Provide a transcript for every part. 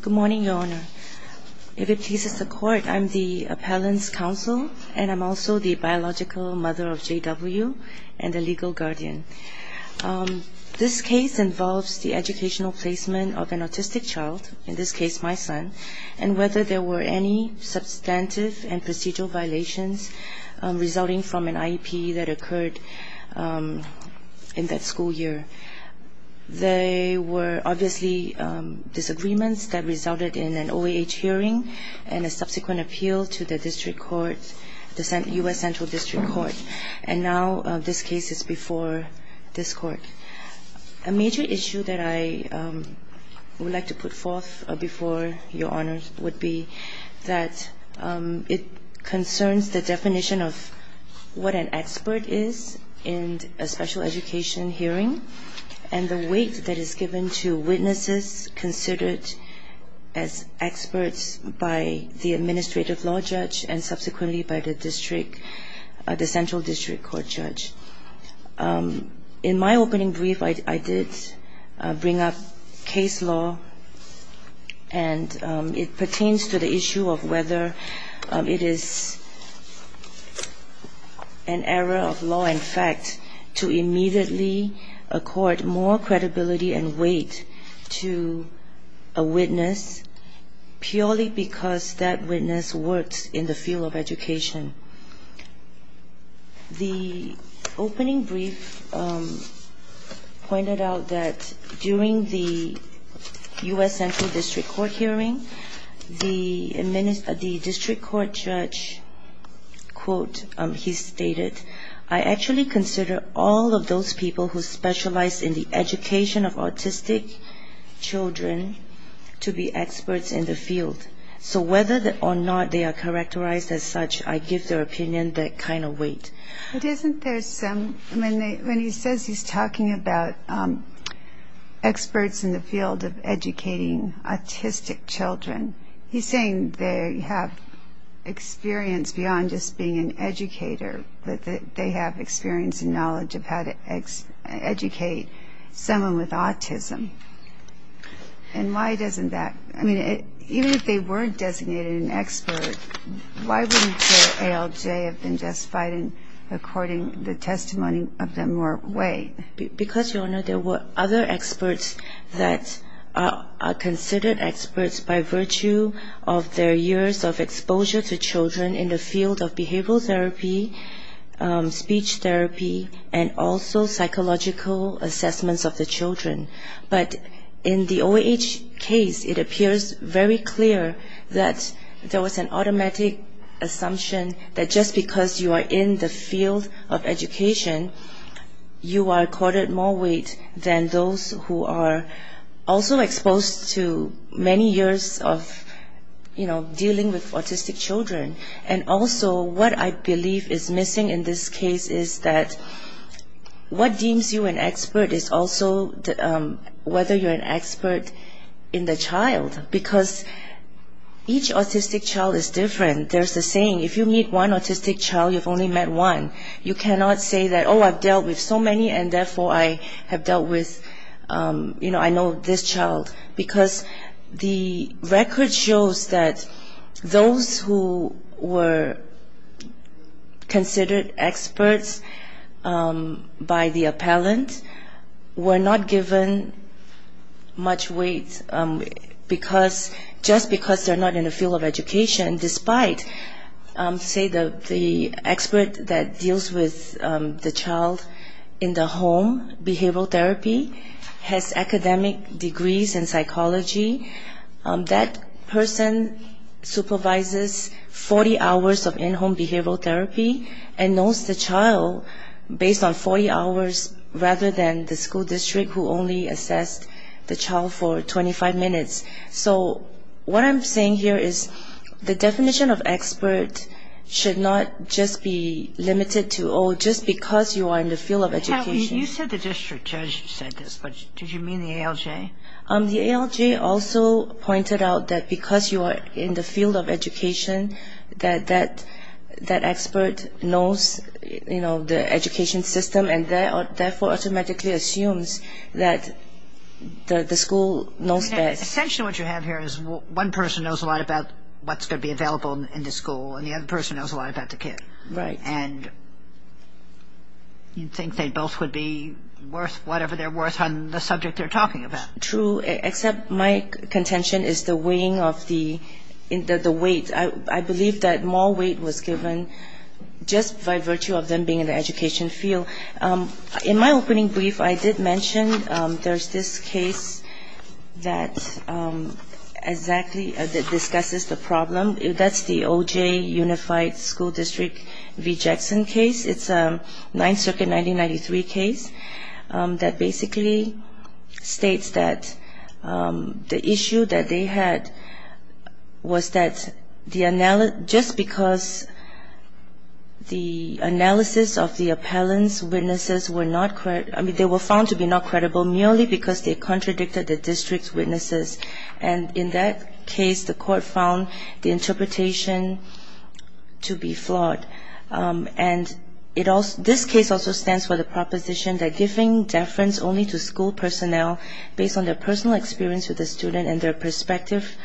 Good morning, Your Honor. If it pleases the Court, I am the Appellant's Counsel and I am also the biological mother of J.W. and the legal guardian. This case involves the educational placement of an autistic child, in this case my son, and whether there were any substantive and procedural violations resulting from an IEP that occurred in that school year. There were obviously disagreements that resulted in an OAH hearing and a subsequent appeal to the U.S. Central District Court, and now this case is before this Court. A major issue that I would like to put forth before Your Honor would be that it concerns the definition of what an expert is in a special education hearing and the weight that is given to witnesses considered as experts by the administrative law judge and subsequently by the district, the Central District Court judge. In my opening brief, I did bring up case law and it pertains to the issue of whether it is an error of law, in fact, to immediately accord more credibility and weight to a witness purely because that witness works in the field of education. The opening brief pointed out that during the U.S. Central District Court hearing, the district court judge, quote, he stated, I actually consider all of those people who specialize in the education of autistic children to be experts in the field. So whether or not they are characterized as such, I give their opinion that kind of weight. But isn't there some, when he says he's talking about experts in the field of educating autistic children, he's saying they have experience beyond just being an educator, that they have experience and knowledge of how to educate someone with autism. And why doesn't that, I mean, even if they weren't designated an expert, why wouldn't their ALJ have been justified in according to the testimony of the more weight? Because, Your Honor, there were other experts that are considered experts by virtue of their years of exposure to children in the field of behavioral therapy, speech therapy, and also psychological assessments of the children. But in the OAH case, it appears very clear that there was an automatic assumption that just because you are in the field of education, you are accorded more weight than those who are also exposed to many years of, you know, dealing with autistic children. And also, what I believe is missing in this case is that what deems you an expert is also whether you're an expert in the child. Because each autistic child is different. There's a saying, if you meet one autistic child, you've only met one. You cannot say that, oh, I've dealt with so many, and therefore I have dealt with, you know, I know this child. Because the record shows that those who were considered experts by the appellant were not given much weight just because they're not in the field of education. And despite, say, the expert that deals with the child in the home behavioral therapy has academic degrees in psychology, that person supervises 40 hours of in-home behavioral therapy and knows the child based on 40 hours rather than the school district who only assessed the child for 25 minutes. So what I'm saying here is the definition of expert should not just be limited to, oh, just because you are in the field of education. You said the district judge said this, but did you mean the ALJ? The ALJ also pointed out that because you are in the field of education, that that expert knows, you know, the education system and therefore automatically assumes that the school knows best. Essentially what you have here is one person knows a lot about what's going to be available in the school and the other person knows a lot about the kid. Right. And you think they both would be worth whatever they're worth on the subject they're talking about. True, except my contention is the weighing of the weight. I believe that more weight was given just by virtue of them being in the education field. In my opening brief, I did mention there's this case that exactly discusses the problem. That's the OJ Unified School District v. Jackson case. It's a 9th Circuit 1993 case that basically states that the issue that they had was that just because the analysis of the appellant's witnesses were not credible, I mean, they were found to be not credible merely because they contradicted the district's witnesses. And in that case, the court found the interpretation to be flawed. And this case also stands for the proposition that giving deference only to school personnel based on their personal experience with the student and their perspective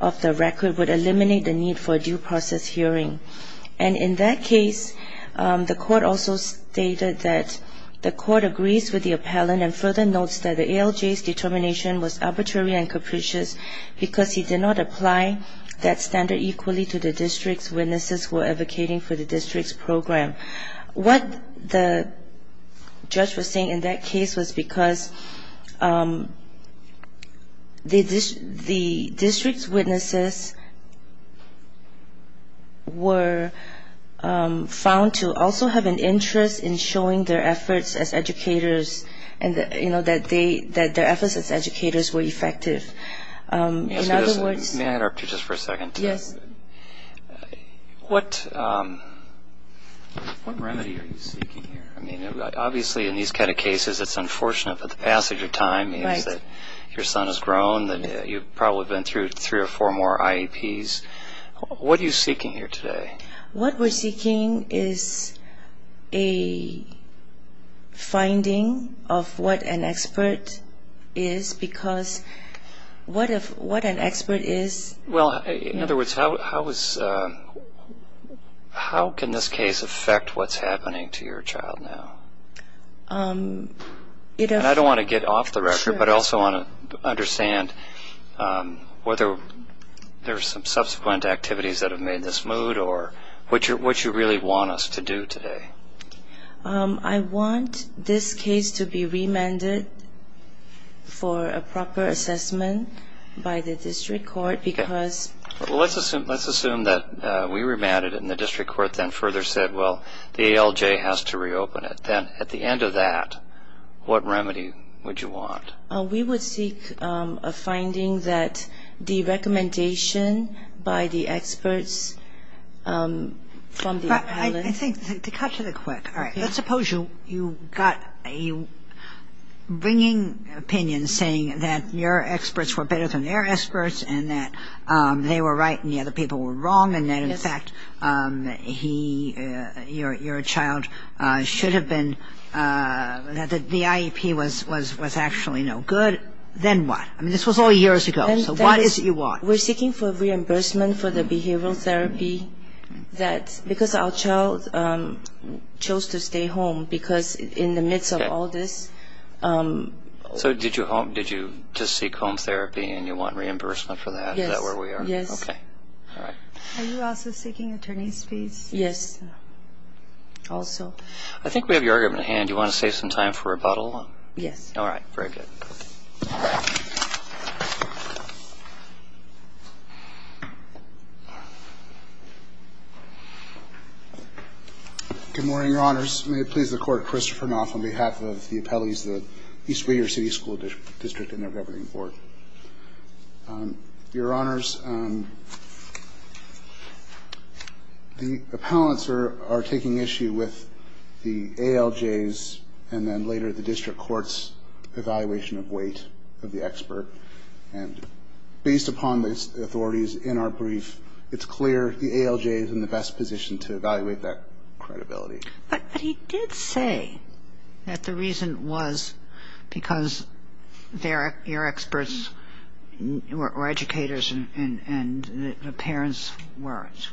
of the record would eliminate the need for a due process hearing. And in that case, the court also stated that the court agrees with the appellant and further notes that the ALJ's determination was arbitrary and could be changed. And in that case, the court also stated that the judge's decision was not appreciated because he did not apply that standard equally to the district's witnesses who were advocating for the district's program. What the judge was saying in that case was because the district's witnesses were found to also have an interest in showing their efforts as educators, you know, that their efforts as educators were effective. In other words... May I interrupt you just for a second? Yes. What remedy are you seeking here? I mean, obviously in these kind of cases, it's unfortunate that the passage of time means that your son has grown, that you've probably been through three or four more IEPs. What are you seeking here today? What we're seeking is a finding of what an expert is, because what an expert is... Well, in other words, how can this case affect what's happening to your child now? And I don't want to get off the record, but I also want to understand whether there are some subsequent activities that have made this mood or... What you really want us to do today? I want this case to be remanded for a proper assessment by the district court because... Well, let's assume that we remanded it and the district court then further said, well, the ALJ has to reopen it. Then at the end of that, what remedy would you want? We would seek a finding that the recommendation by the experts may not be sufficient. I think to cut to the quick, let's suppose you got a bringing opinion saying that your experts were better than their experts and that they were right and the other people were wrong and that in fact your child should have been... that the IEP was actually no good. Then what? I mean, this was all years ago. So what is it you want? We're seeking for reimbursement for the behavioral therapy because our child chose to stay home because in the midst of all this... So did you just seek home therapy and you want reimbursement for that? Is that where we are? Yes. Are you also seeking attorney's fees? Yes, also. I think we have your argument at hand. Do you want to save some time for rebuttal? Yes. All right. Very good. Good morning, Your Honors. Your Honors, may it please the Court, Christopher Knopf on behalf of the appellees of the East Reader City School District and their governing board. Your Honors, the appellants are taking issue with the ALJs and then later the district court's evaluation of weight of the expert. And based upon the authorities in our brief, it's clear the ALJ is in the best position to evaluate that credibility. But he did say that the reason was because their ear experts were educators and the parents weren't.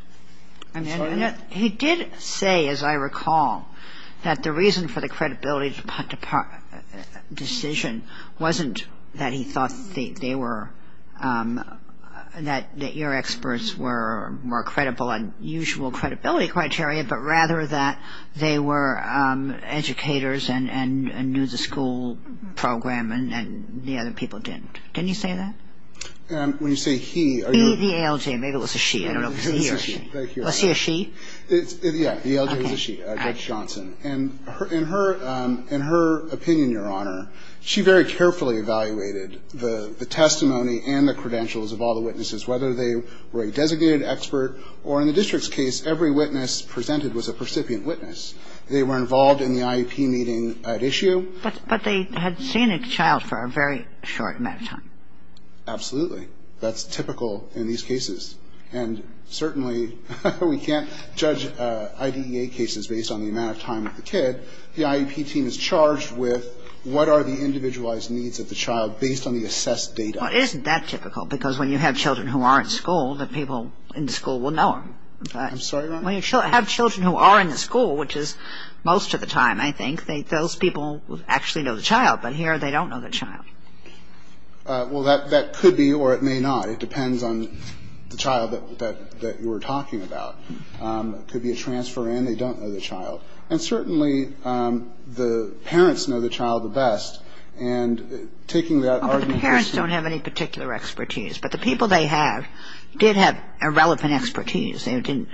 He did say, as I recall, that the reason for the credibility decision wasn't that he thought they were, that your experts were more credible on usual credibility criteria, but rather that they were educators and knew the school program and the other people didn't. Didn't he say that? He, the ALJ, maybe it was a she. Was he a she? Yeah, the ALJ was a she, Judge Johnson. And in her opinion, Your Honor, she very carefully evaluated the testimony and the credentials of all the witnesses, whether they were a designated expert or in the district's case, every witness presented was a percipient witness. They were involved in the IEP meeting at issue. But they had seen a child for a very short amount of time. Absolutely. That's typical in these cases. And certainly we can't judge IDEA cases based on the amount of time with the kid. The IEP team is charged with what are the individualized needs of the child based on the assessed data. Well, isn't that typical? Because when you have children who are in school, the people in the school will know them. I'm sorry, Your Honor? When you have children who are in the school, which is most of the time, I think, those people actually know the child, but here they don't know the child. Well, that could be or it may not. It depends on the child that you were talking about. It could be a transfer in. They don't know the child. And certainly the parents know the child the best. And taking that argument... The parents don't have any particular expertise, but the people they have did have a relevant expertise, didn't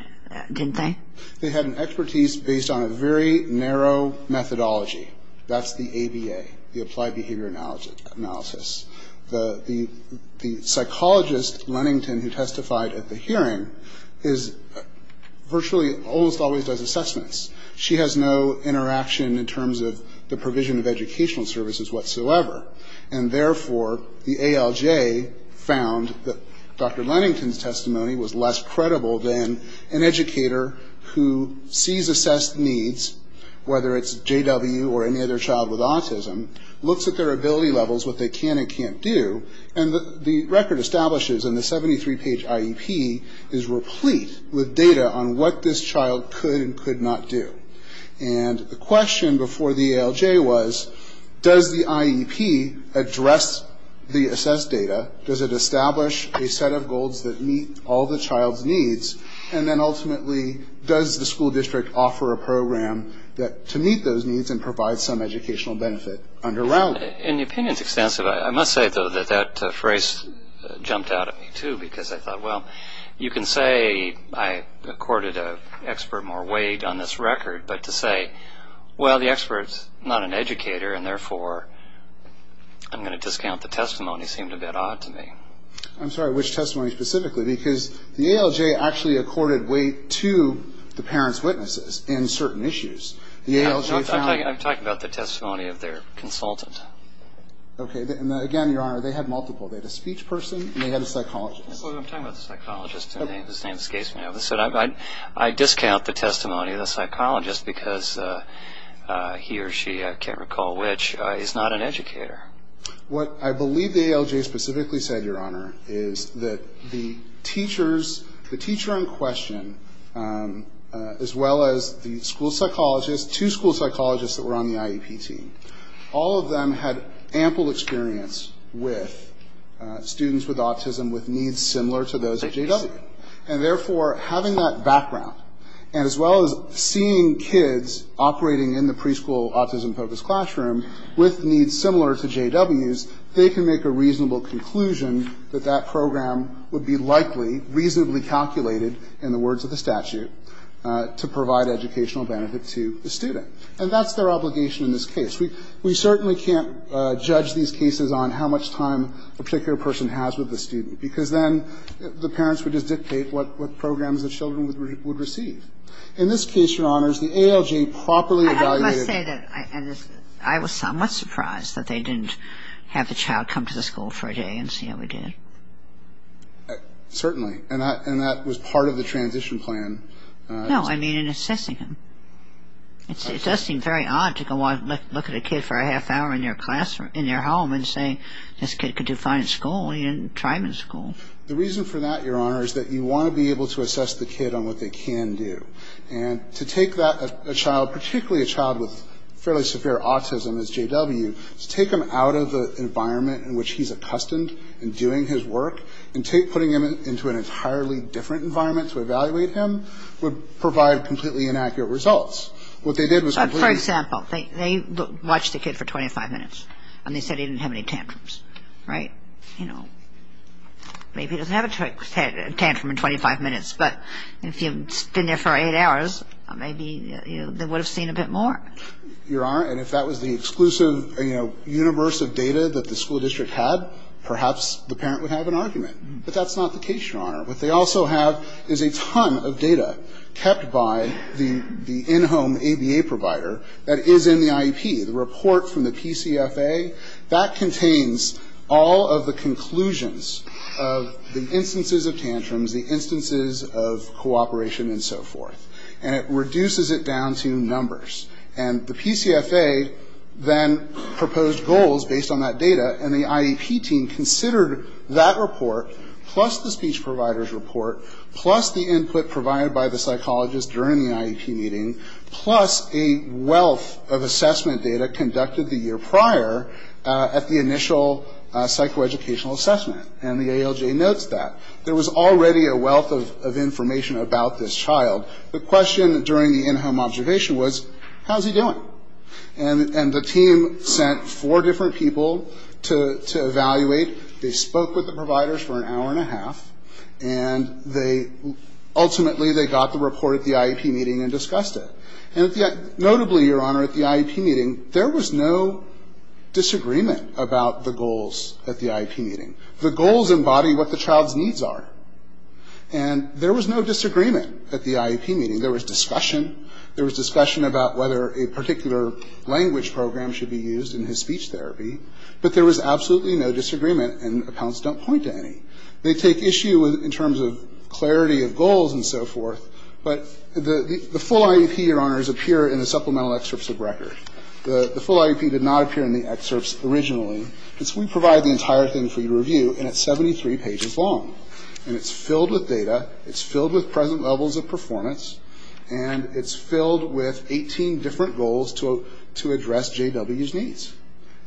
they? They had an expertise based on a very narrow methodology. That's the ABA, the Applied Behavior Analysis. The psychologist, Lennington, who testified at the hearing, virtually almost always does assessments. She has no interaction in terms of the provision of educational services whatsoever. And therefore, the ALJ found that Dr. Lennington's testimony was less credible than an educator who sees assessed needs, whether it's JW or any other child with autism, looks at their ability levels, what they can and can't do, and the record establishes in the 73-page IEP is replete with data on what this child could and could not do. And the question before the ALJ was, does the IEP address the assessed data? Does it establish a set of goals that meet all the child's needs? And then ultimately, does the school district offer a program to meet those needs and provide some educational benefit underwriting? In the opinion's extensive, I must say, though, that that phrase jumped out at me, too, because I thought, well, you can say I accorded an expert more weight on this record, but to say, well, the expert's not an educator, and therefore I'm going to discount the testimony seemed a bit odd to me. I'm sorry, which testimony specifically? Because the ALJ actually accorded weight to the parents' witnesses in certain issues. I'm talking about the testimony of their consultant. Okay. And again, Your Honor, they had multiple. They had a speech person and they had a psychologist. I'm talking about the psychologist. His name escapes me. I discount the testimony of the psychologist because he or she, I can't recall which, is not an educator. What I believe the ALJ specifically said, Your Honor, is that the teachers, the teacher in question, as well as the school psychologist, two school psychologists that were on the IEP team, all of them had ample experience with students with autism with needs similar to those at J.W. And therefore, having that background, and as well as seeing kids operating in the preschool autism-focused classroom with needs similar to J.W.'s, they can make a reasonable conclusion that that program would be likely, reasonably calculated, in the words of the statute, to provide educational benefit to the student. And that's their obligation in this case. We certainly can't judge these cases on how much time a particular person has with the student, because then the parents would just dictate what programs the children would receive. In this case, Your Honors, the ALJ properly evaluated the case. I must say that I was somewhat surprised that they didn't have the child come to the school for a day and see how he did. Certainly. And that was part of the transition plan. No, I mean in assessing him. It does seem very odd to go out and look at a kid for a half hour in their classroom, in their home, and say, this kid could do fine in school. He didn't try him in school. The reason for that, Your Honor, is that you want to be able to assess the kid on what they can do. And to take that child, particularly a child with fairly severe autism as J.W., to take him out of the environment in which he's accustomed in doing his work, and putting him into an entirely different environment to evaluate him, would provide completely inaccurate results. What they did was completely… For example, they watched the kid for 25 minutes, and they said he didn't have any tantrums. Right? You know, maybe he doesn't have a tantrum in 25 minutes, but if he had been there for eight hours, maybe they would have seen a bit more. Your Honor, and if that was the exclusive universe of data that the school district had, perhaps the parent would have an argument. But that's not the case, Your Honor. What they also have is a ton of data kept by the in-home ABA provider that is in the IEP. The report from the PCFA, that contains all of the conclusions of the instances of tantrums, the instances of cooperation, and so forth. And it reduces it down to numbers. And the PCFA then proposed goals based on that data, and the IEP team considered that report, plus the speech provider's report, plus the input provided by the psychologist during the IEP meeting, plus a wealth of assessment data conducted the year prior at the initial psychoeducational assessment. And the ALJ notes that. There was already a wealth of information about this child. The question during the in-home observation was, how's he doing? And the team sent four different people to evaluate. They spoke with the providers for an hour and a half, and ultimately they got the report at the IEP meeting and discussed it. And notably, Your Honor, at the IEP meeting, there was no disagreement about the goals at the IEP meeting. The goals embody what the child's needs are. And there was no disagreement at the IEP meeting. There was discussion. There was discussion about whether a particular language program should be used in his speech therapy. But there was absolutely no disagreement, and accounts don't point to any. They take issue in terms of clarity of goals and so forth. But the full IEP, Your Honors, appear in the supplemental excerpts of record. The full IEP did not appear in the excerpts originally. We provide the entire thing for you to review, and it's 73 pages long. And it's filled with data. It's filled with present levels of performance. And it's filled with 18 different goals to address J.W.'s needs.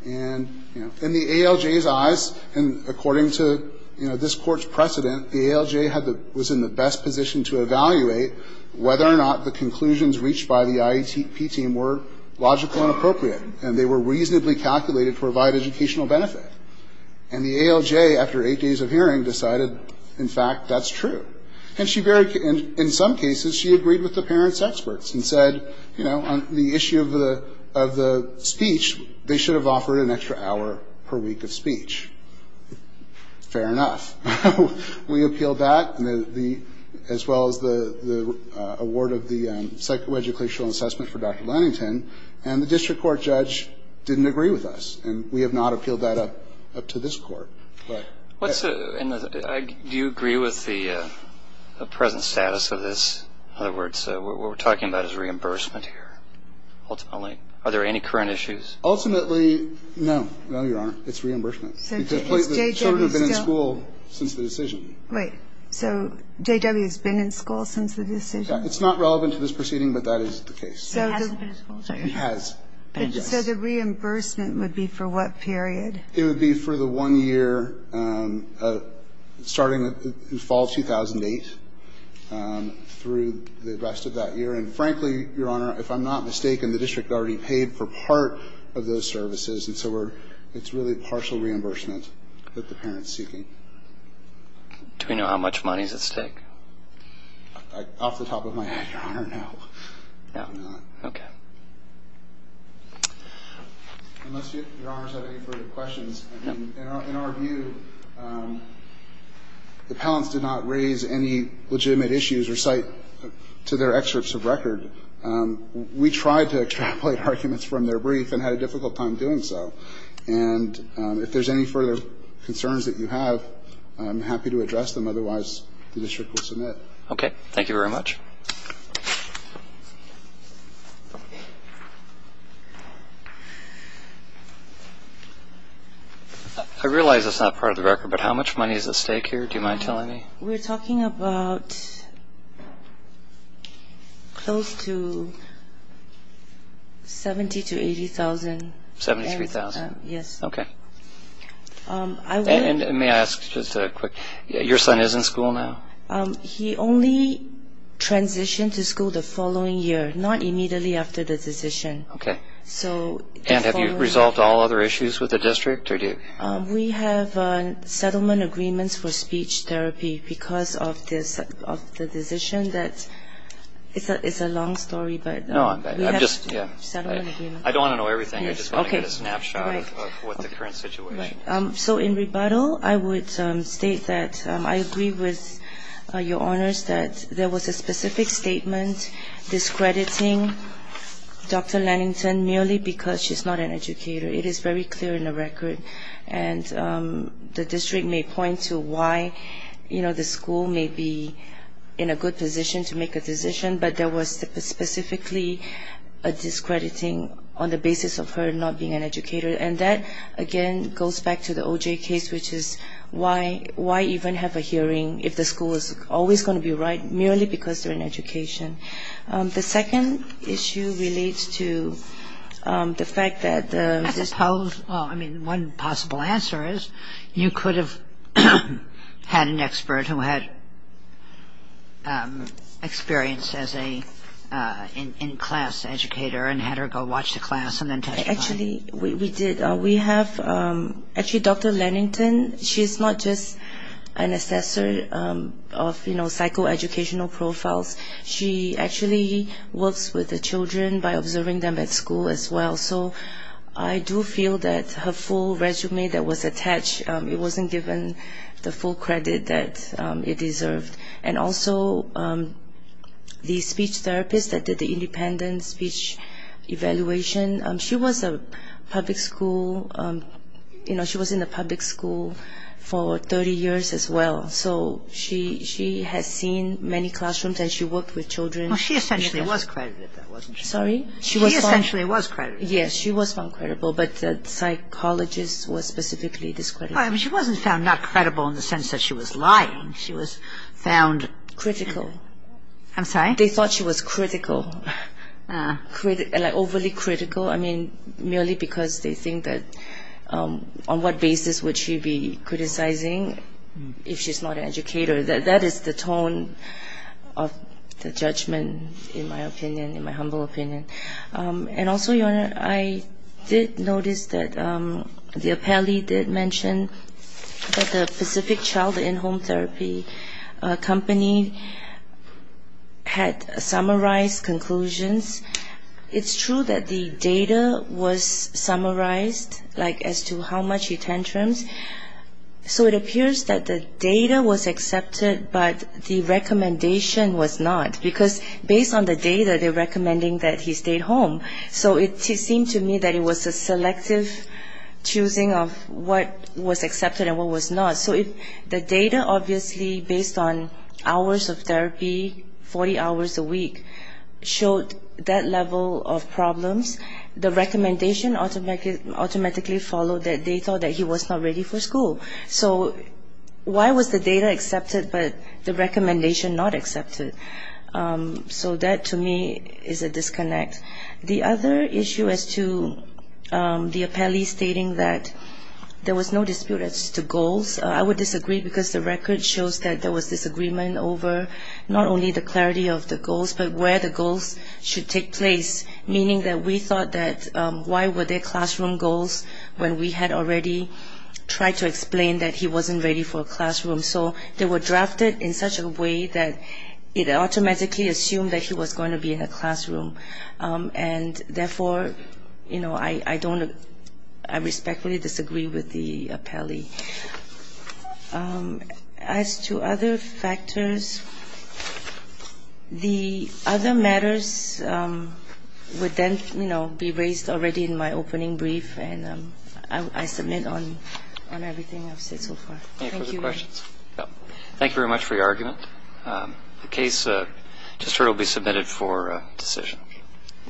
And, you know, in the ALJ's eyes, and according to, you know, this court's precedent, the ALJ was in the best position to evaluate whether or not the conclusions reached by the IEP team were logical and appropriate, and they were reasonably calculated to provide educational benefit. And the ALJ, after eight days of hearing, decided, in fact, that's true. And in some cases she agreed with the parents' experts and said, you know, on the issue of the speech, they should have offered an extra hour per week of speech. Fair enough. We appealed that, as well as the award of the psychoeducational assessment for Dr. Lannington, and the district court judge didn't agree with us. And we have not appealed that up to this court. Do you agree with the present status of this? In other words, what we're talking about is reimbursement here, ultimately. Are there any current issues? Ultimately, no. No, Your Honor. It's reimbursement. The children have been in school since the decision. Wait. So J.W.'s been in school since the decision? It's not relevant to this proceeding, but that is the case. It hasn't been in school, so you're right. It has. So the reimbursement would be for what period? It would be for the one year starting in fall 2008 through the rest of that year. And, frankly, Your Honor, if I'm not mistaken, the district already paid for part of those services, and so it's really partial reimbursement that the parent's seeking. Do we know how much money is at stake? Off the top of my head, Your Honor, no. No? No. Okay. Unless Your Honor has any further questions, in our view, the parents did not raise any legitimate issues or cite to their excerpts of record. We tried to extrapolate arguments from their brief and had a difficult time doing so. And if there's any further concerns that you have, I'm happy to address them. Otherwise, the district will submit. Okay. Thank you very much. I realize it's not part of the record, but how much money is at stake here? Do you mind telling me? We're talking about close to $70,000 to $80,000. $73,000? Yes. Okay. And may I ask just a quick question? He only transferred to school for a year. He transitioned to school the following year, not immediately after the decision. Okay. And have you resolved all other issues with the district? We have settlement agreements for speech therapy because of the decision. It's a long story, but we have settlement agreements. I don't want to know everything. I just want to get a snapshot of what the current situation is. So in rebuttal, I would state that I agree with Your Honors that there was a specific statement discrediting Dr. Lannington merely because she's not an educator. It is very clear in the record. And the district may point to why the school may be in a good position to make a decision, but there was specifically a discrediting on the basis of her not being an educator. And that, again, goes back to the O.J. case, which is why even have a hearing if the school is always going to be right merely because they're an education. The second issue relates to the fact that the district... I suppose, well, I mean, one possible answer is you could have had an expert who had experience as an in-class educator and had her go watch the class and then testify. Actually, we did. We have actually Dr. Lannington, she's not just an assessor of psychoeducational profiles. She actually works with the children by observing them at school as well. So I do feel that her full resume that was attached, it wasn't given the full credit that it deserved. And also the speech therapist that did the independent speech evaluation, she was a public school, you know, she was in the public school for 30 years as well. So she has seen many classrooms and she worked with children. Well, she essentially was credited, though, wasn't she? Sorry? She essentially was credited. Yes, she was found credible, but the psychologist was specifically discredited. Well, I mean, she wasn't found not credible in the sense that she was lying. She was found... Critical. I'm sorry? They thought she was critical, like overly critical, I mean, merely because they think that on what basis would she be criticizing if she's not an educator. That is the tone of the judgment, in my opinion, in my humble opinion. And also, Your Honor, I did notice that the appellee did mention that the Pacific Child, a company had summarized conclusions. It's true that the data was summarized, like as to how much he tantrums. So it appears that the data was accepted, but the recommendation was not, because based on the data, they're recommending that he stayed home. So it seemed to me that it was a selective choosing of what was accepted and what was not. So the data, obviously, based on hours of therapy, 40 hours a week, showed that level of problems. The recommendation automatically followed that they thought that he was not ready for school. So why was the data accepted, but the recommendation not accepted? So that, to me, is a disconnect. The other issue as to the appellee stating that there was no dispute as to goals, I would disagree because the record shows that there was disagreement over not only the clarity of the goals, but where the goals should take place, meaning that we thought that why were there classroom goals when we had already tried to explain that he wasn't ready for a classroom. So they were drafted in such a way that it automatically assumed that he was going to be in a classroom. And, therefore, you know, I don't – I respectfully disagree with the appellee. As to other factors, the other matters would then, you know, be raised already in my opening brief, and I submit on everything I've said so far. Thank you. Thank you very much for your argument. The case just heard will be submitted for decision.